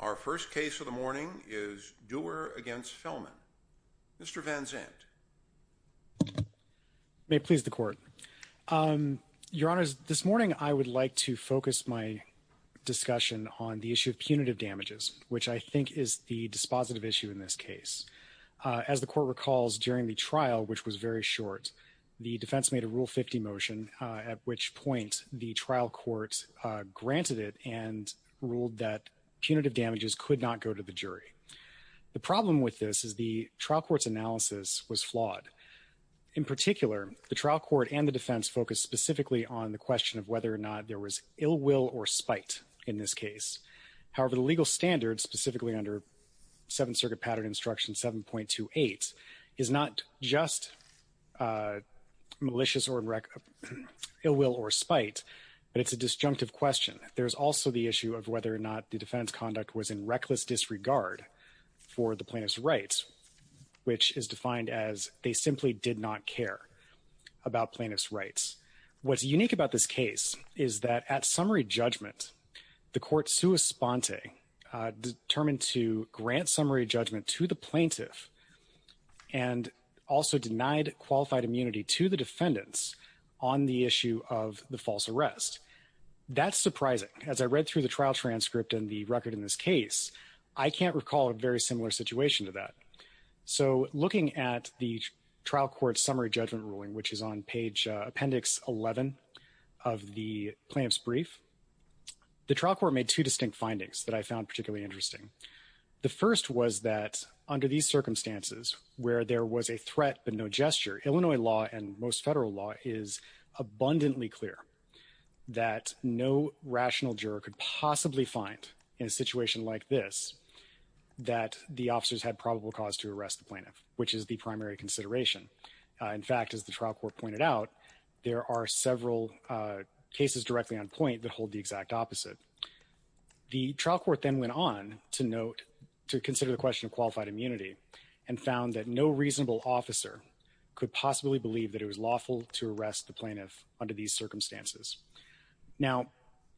Our first case of the morning is Dewar v. Felmon. Mr. Van Zandt. May it please the Court. Your Honors, this morning I would like to focus my discussion on the issue of punitive damages, which I think is the dispositive issue in this case. As the Court recalls, during the trial, which was very short, the defense made a Rule 50 motion, at which point the trial court granted it and ruled that punitive damages could not go to the jury. The problem with this is the trial court's analysis was flawed. In particular, the trial court and the defense focused specifically on the question of whether or not there was ill will or spite in this case. However, the legal standard, specifically under Seventh Circuit Pattern Instruction 7.28, is not just malicious or ill will or spite, but it's a disjunctive question. There's also the issue of whether or not the defense conduct was in reckless disregard for the plaintiff's rights, which is defined as they simply did not care about plaintiff's rights. What's unique about this case is that at summary judgment, the court sui sponte determined to grant summary judgment to the plaintiff and also denied qualified immunity to the defendants on the issue of the false arrest. That's surprising. As I read through the trial transcript and the record in this case, I can't recall a very similar situation to that. So looking at the trial court's summary judgment ruling, which is on page appendix 11 of the plaintiff's brief, the trial court made two distinct findings that I found particularly interesting. The first was that under these circumstances, where there was a threat but no gesture, Illinois law and most federal law is abundantly clear that no rational juror could possibly find in a situation like this that the officers had probable cause to arrest the plaintiff, which is the primary consideration. In fact, as the trial court pointed out, there are several cases directly on point that hold the exact opposite. The trial court then went on to consider the question of qualified immunity and found that no reasonable officer could possibly believe that it was lawful to arrest the plaintiff under these circumstances. Now,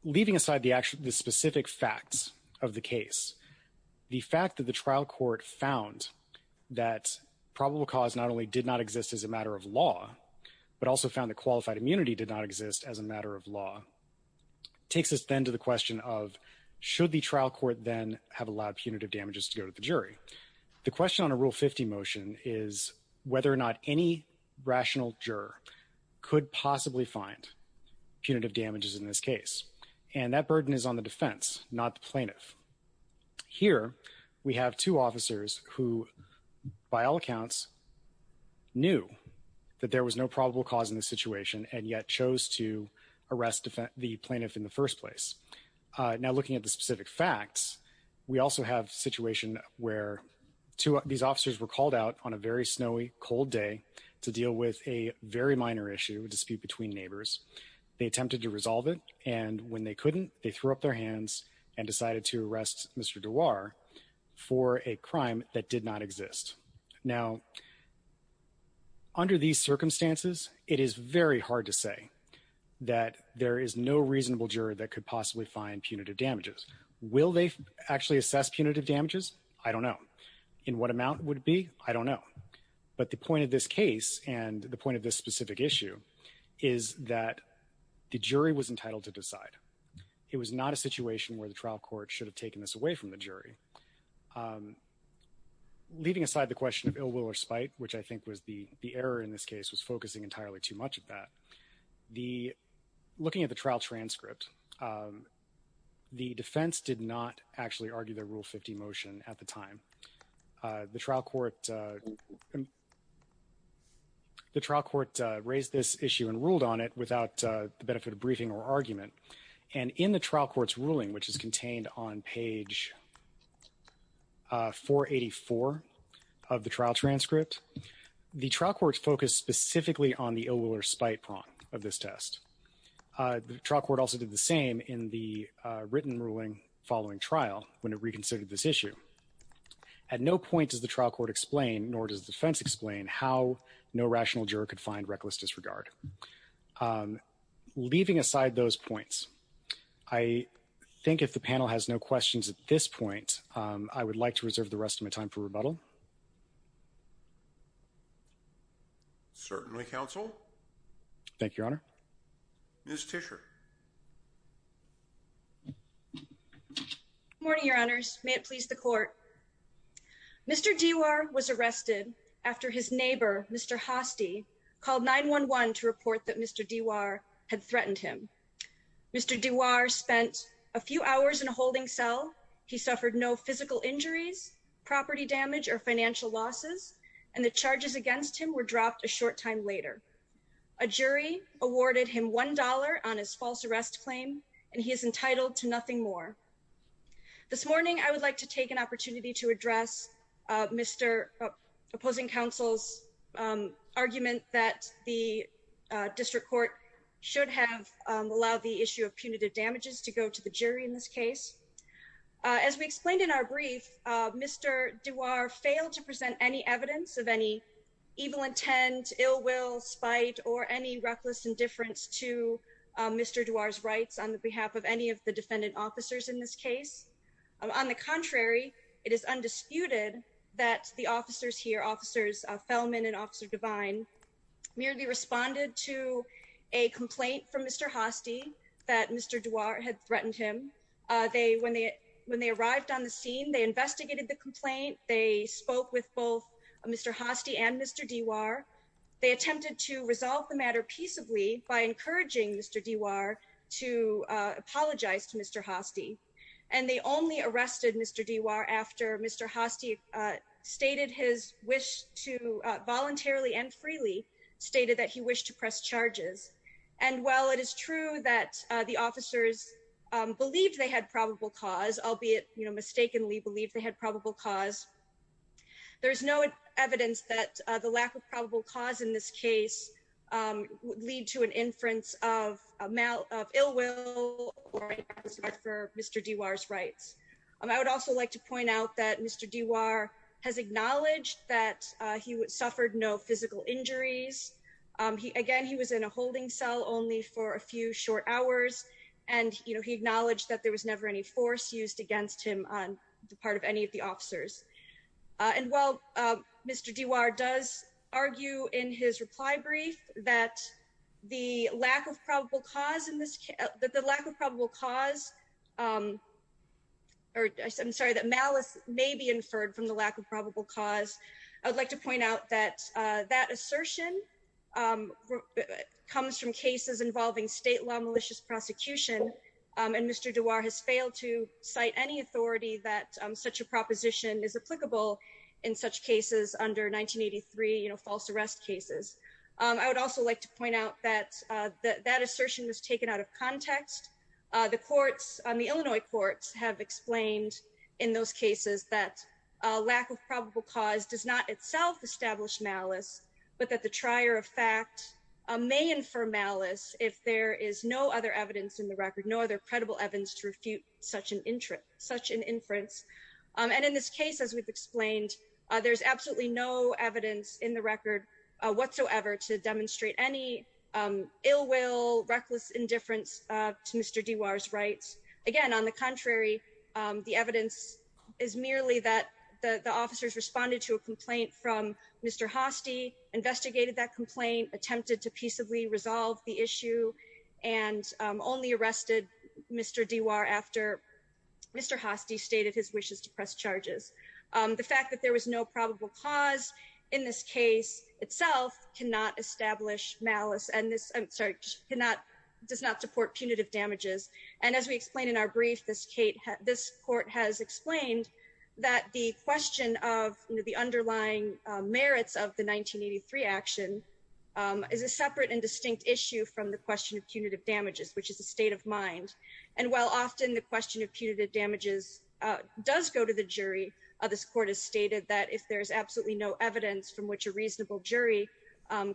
leaving aside the specific facts of the case, the fact that the trial court found that probable cause not only did not exist as a matter of law, but also found that qualified immunity did not exist as a matter of law, takes us then to the question of, should the trial court then have allowed punitive damages to go to the jury? The question on a Rule 50 motion is whether or not any rational juror could possibly find punitive damages in this case. And that burden is on the defense, not the plaintiff. Here, we have two officers who, by all accounts, knew that there was no probable cause in the situation and yet chose to arrest the plaintiff in the first place. Now, looking at the specific facts, we also have a situation where these officers were called out on a very snowy, cold day to deal with a very minor issue, a dispute between neighbors. They attempted to resolve it, and when they couldn't, they threw up their hands and decided to arrest Mr. Duar for a crime that did not exist. Now, under these circumstances, it is very hard to say that there is no reasonable juror that could possibly find punitive damages. Will they actually assess punitive damages? I don't know. In what amount would it be? I don't know. But the point of this case and the point of this specific issue is that the jury was entitled to decide. It was not a situation where the trial court should have taken this away from the jury. Leaving aside the question of ill will or spite, which I think was the error in this case, was focusing entirely too much of that, the looking at the trial transcript, the defense did not actually argue the Rule 50 motion at the time. The trial court raised this issue and ruled on it without the benefit of briefing or argument. And in the trial court's ruling, which is contained on page 484 of the trial transcript, the trial court's focused specifically on the ill will or spite prong of this test. The trial court also did the same in the written ruling following trial when it reconsidered this issue. At no point does the trial court explain, nor does the defense explain, how no rational juror could find reckless disregard. Leaving aside those points, I think if the panel has no questions at this point, I would like to reserve the rest of my time for rebuttal. Counsel? Certainly, counsel. Thank you, Your Honor. Ms. Tischer. Good morning, Your Honors. May it please the court. Mr. DeWaar was arrested after his neighbor, Mr. Hoste, called 911 to report that Mr. DeWaar had threatened him. Mr. DeWaar spent a few hours in a holding cell. He suffered no physical injuries, property damage, or financial losses, and the charges against him were dropped a short time later. A jury awarded him $1 on his false arrest claim, and he is entitled to nothing more. This morning, I would like to take an opportunity to address Mr. opposing counsel's argument that the district court should have allowed the issue of punitive damages to go to the jury in this case. As we explained in our brief, Mr. DeWaar failed to present any evidence of any evil intent, ill will, spite, or any reckless indifference to Mr. DeWaar's rights on behalf of any of the defendant officers in this case. On the contrary, it is undisputed that the officers here, Officers Fellman and Officer Devine, merely responded to a complaint from Mr. Hoste that Mr. DeWaar had threatened him. When they arrived on the scene, they investigated the complaint. They spoke with both Mr. Hoste and Mr. DeWaar. They attempted to resolve the matter peaceably by encouraging Mr. DeWaar to apologize to Mr. Hoste. And they only arrested Mr. DeWaar after Mr. Hoste stated his wish to voluntarily and freely, stated that he wished to press charges. And while it is true that the officers believed they had probable cause, albeit mistakenly believed they had probable cause, there is no evidence that the lack of probable cause in this case would lead to an inference of ill will or reckless indifference for Mr. DeWaar's rights. I would also like to point out that Mr. DeWaar has acknowledged that he suffered no physical injuries. Again, he was in a holding cell only for a few short hours. And he acknowledged that there was never any force used against him on the part of any of the officers. And while Mr. DeWaar does argue in his reply brief that the lack of probable cause in this case, that the lack of probable cause, or I'm sorry, that malice may be inferred from the lack of probable cause, I would like to point out that that assertion comes from cases involving state law malicious prosecution. And Mr. DeWaar has failed to cite any authority that such a proposition is applicable in such cases under 1983 false arrest cases. I would also like to point out that that assertion was taken out of context. The courts, the Illinois courts, have explained in those cases that a lack of probable cause does not itself establish malice, but that the trier of fact may infer malice if there is no other evidence in the record, no other credible evidence to refute such an inference. And in this case, as we've explained, there's absolutely no evidence in the record whatsoever to demonstrate any ill will, reckless indifference to Mr. DeWaar's rights. Again, on the contrary, the evidence is merely that the officers responded to a complaint from Mr. Hostey, investigated that complaint, attempted to peaceably resolve the issue, and only arrested Mr. DeWaar after Mr. Hostey stated his wishes to press charges. The fact that there was no probable cause in this case itself cannot establish malice and does not support punitive damages. And as we explained in our brief, this court has explained that the question of the underlying merits of the 1983 action is a separate and distinct issue from the question of punitive damages, which is a state of mind. And while often the question of punitive damages does go to the jury, this court has stated that if there is absolutely no evidence from which a reasonable jury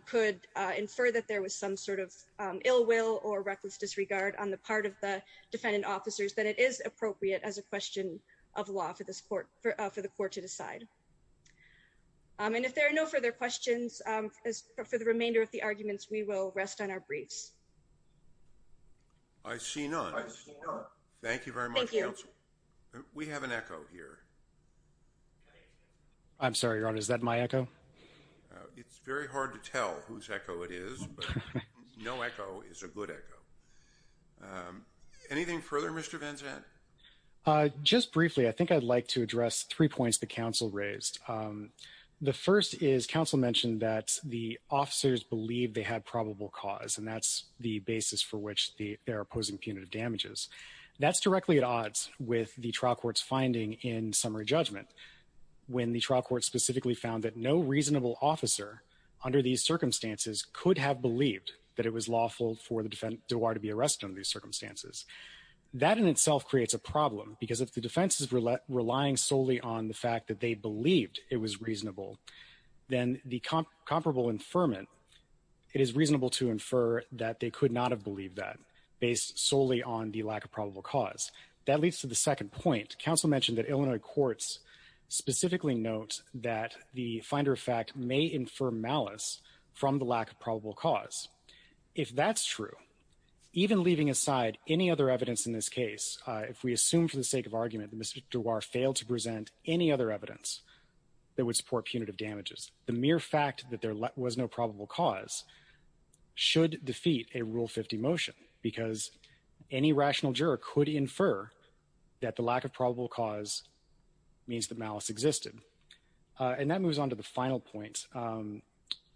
could infer that there was some sort of ill will or reckless disregard on the part of the defendant officers, that it is appropriate as a question of law for the court to decide. And if there are no further questions, for the remainder of the arguments, we will rest on our briefs. I see none. Thank you very much, counsel. We have an echo here. I'm sorry, Your Honor, is that my echo? It's very hard to tell whose echo it is. No echo is a good echo. Anything further, Mr. Van Zandt? Just briefly, I think I'd like to address three points the counsel raised. The first is counsel mentioned that the officers believe they had probable cause, and that's the basis for which they're opposing punitive damages. That's directly at odds with the trial court's finding in summary judgment, when the trial court specifically found that no reasonable officer under these circumstances could have believed that it was lawful for the defendant to be arrested under these circumstances. That in itself creates a problem, because if the defense is relying solely on the fact that they believed it was reasonable, then the comparable infirmant, it is reasonable to infer that they could not have believed that, based solely on the lack of probable cause. That leads to the second point. Counsel mentioned that Illinois courts specifically note that the finder of fact may infer malice from the lack of probable cause. If that's true, even leaving aside any other evidence in this case, if we assume for the sake of argument that Mr. DeWaar failed to present any other evidence that would support punitive damages, the mere fact that there was no probable cause should defeat a Rule 50 motion. Because any rational juror could infer that the lack of probable cause means that malice existed. And that moves on to the final point.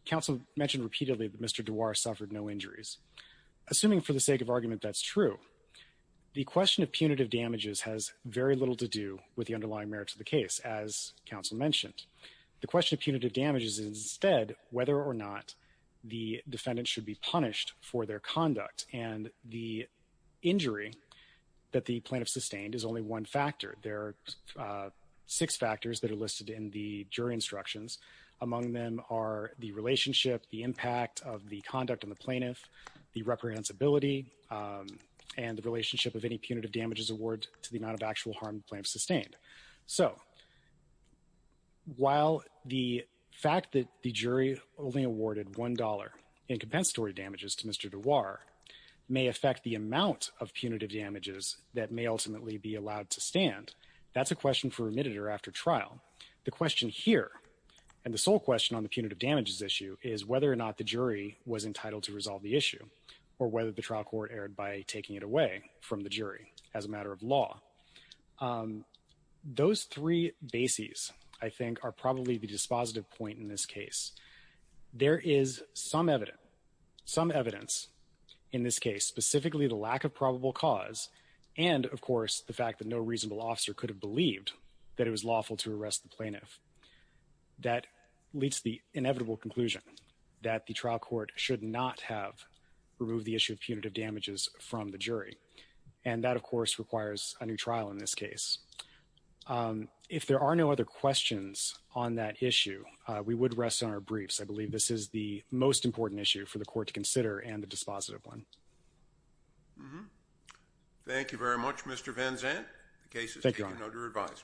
Counsel mentioned repeatedly that Mr. DeWaar suffered no injuries. Assuming for the sake of argument that's true, the question of punitive damages has very little to do with the underlying merits of the case, as counsel mentioned. The question of punitive damages is instead whether or not the defendant should be punished for their conduct. And the injury that the plaintiff sustained is only one factor. There are six factors that are listed in the jury instructions. Among them are the relationship, the impact of the conduct on the plaintiff, the reprehensibility, and the relationship of any punitive damages award to the amount of actual harm the plaintiff sustained. So, while the fact that the jury only awarded $1 in compensatory damages to Mr. DeWaar may affect the amount of punitive damages that may ultimately be allowed to stand, that's a question for remitted or after trial. The question here, and the sole question on the punitive damages issue is whether or not the jury was entitled to resolve the issue, or whether the trial court erred by taking it away from the jury as a matter of law. Those three bases, I think, are probably the dispositive point in this case. There is some evidence, some evidence in this case, specifically the lack of probable cause, and of course the fact that no reasonable officer could have believed that it was lawful to arrest the plaintiff. That leads to the inevitable conclusion that the trial court should not have removed the issue of punitive damages from the jury. And that, of course, requires a new trial in this case. If there are no other questions on that issue, we would rest on our briefs. I believe this is the most important issue for the court to consider, and the dispositive one. Thank you very much, Mr. Van Zandt. The case is taken under advisement.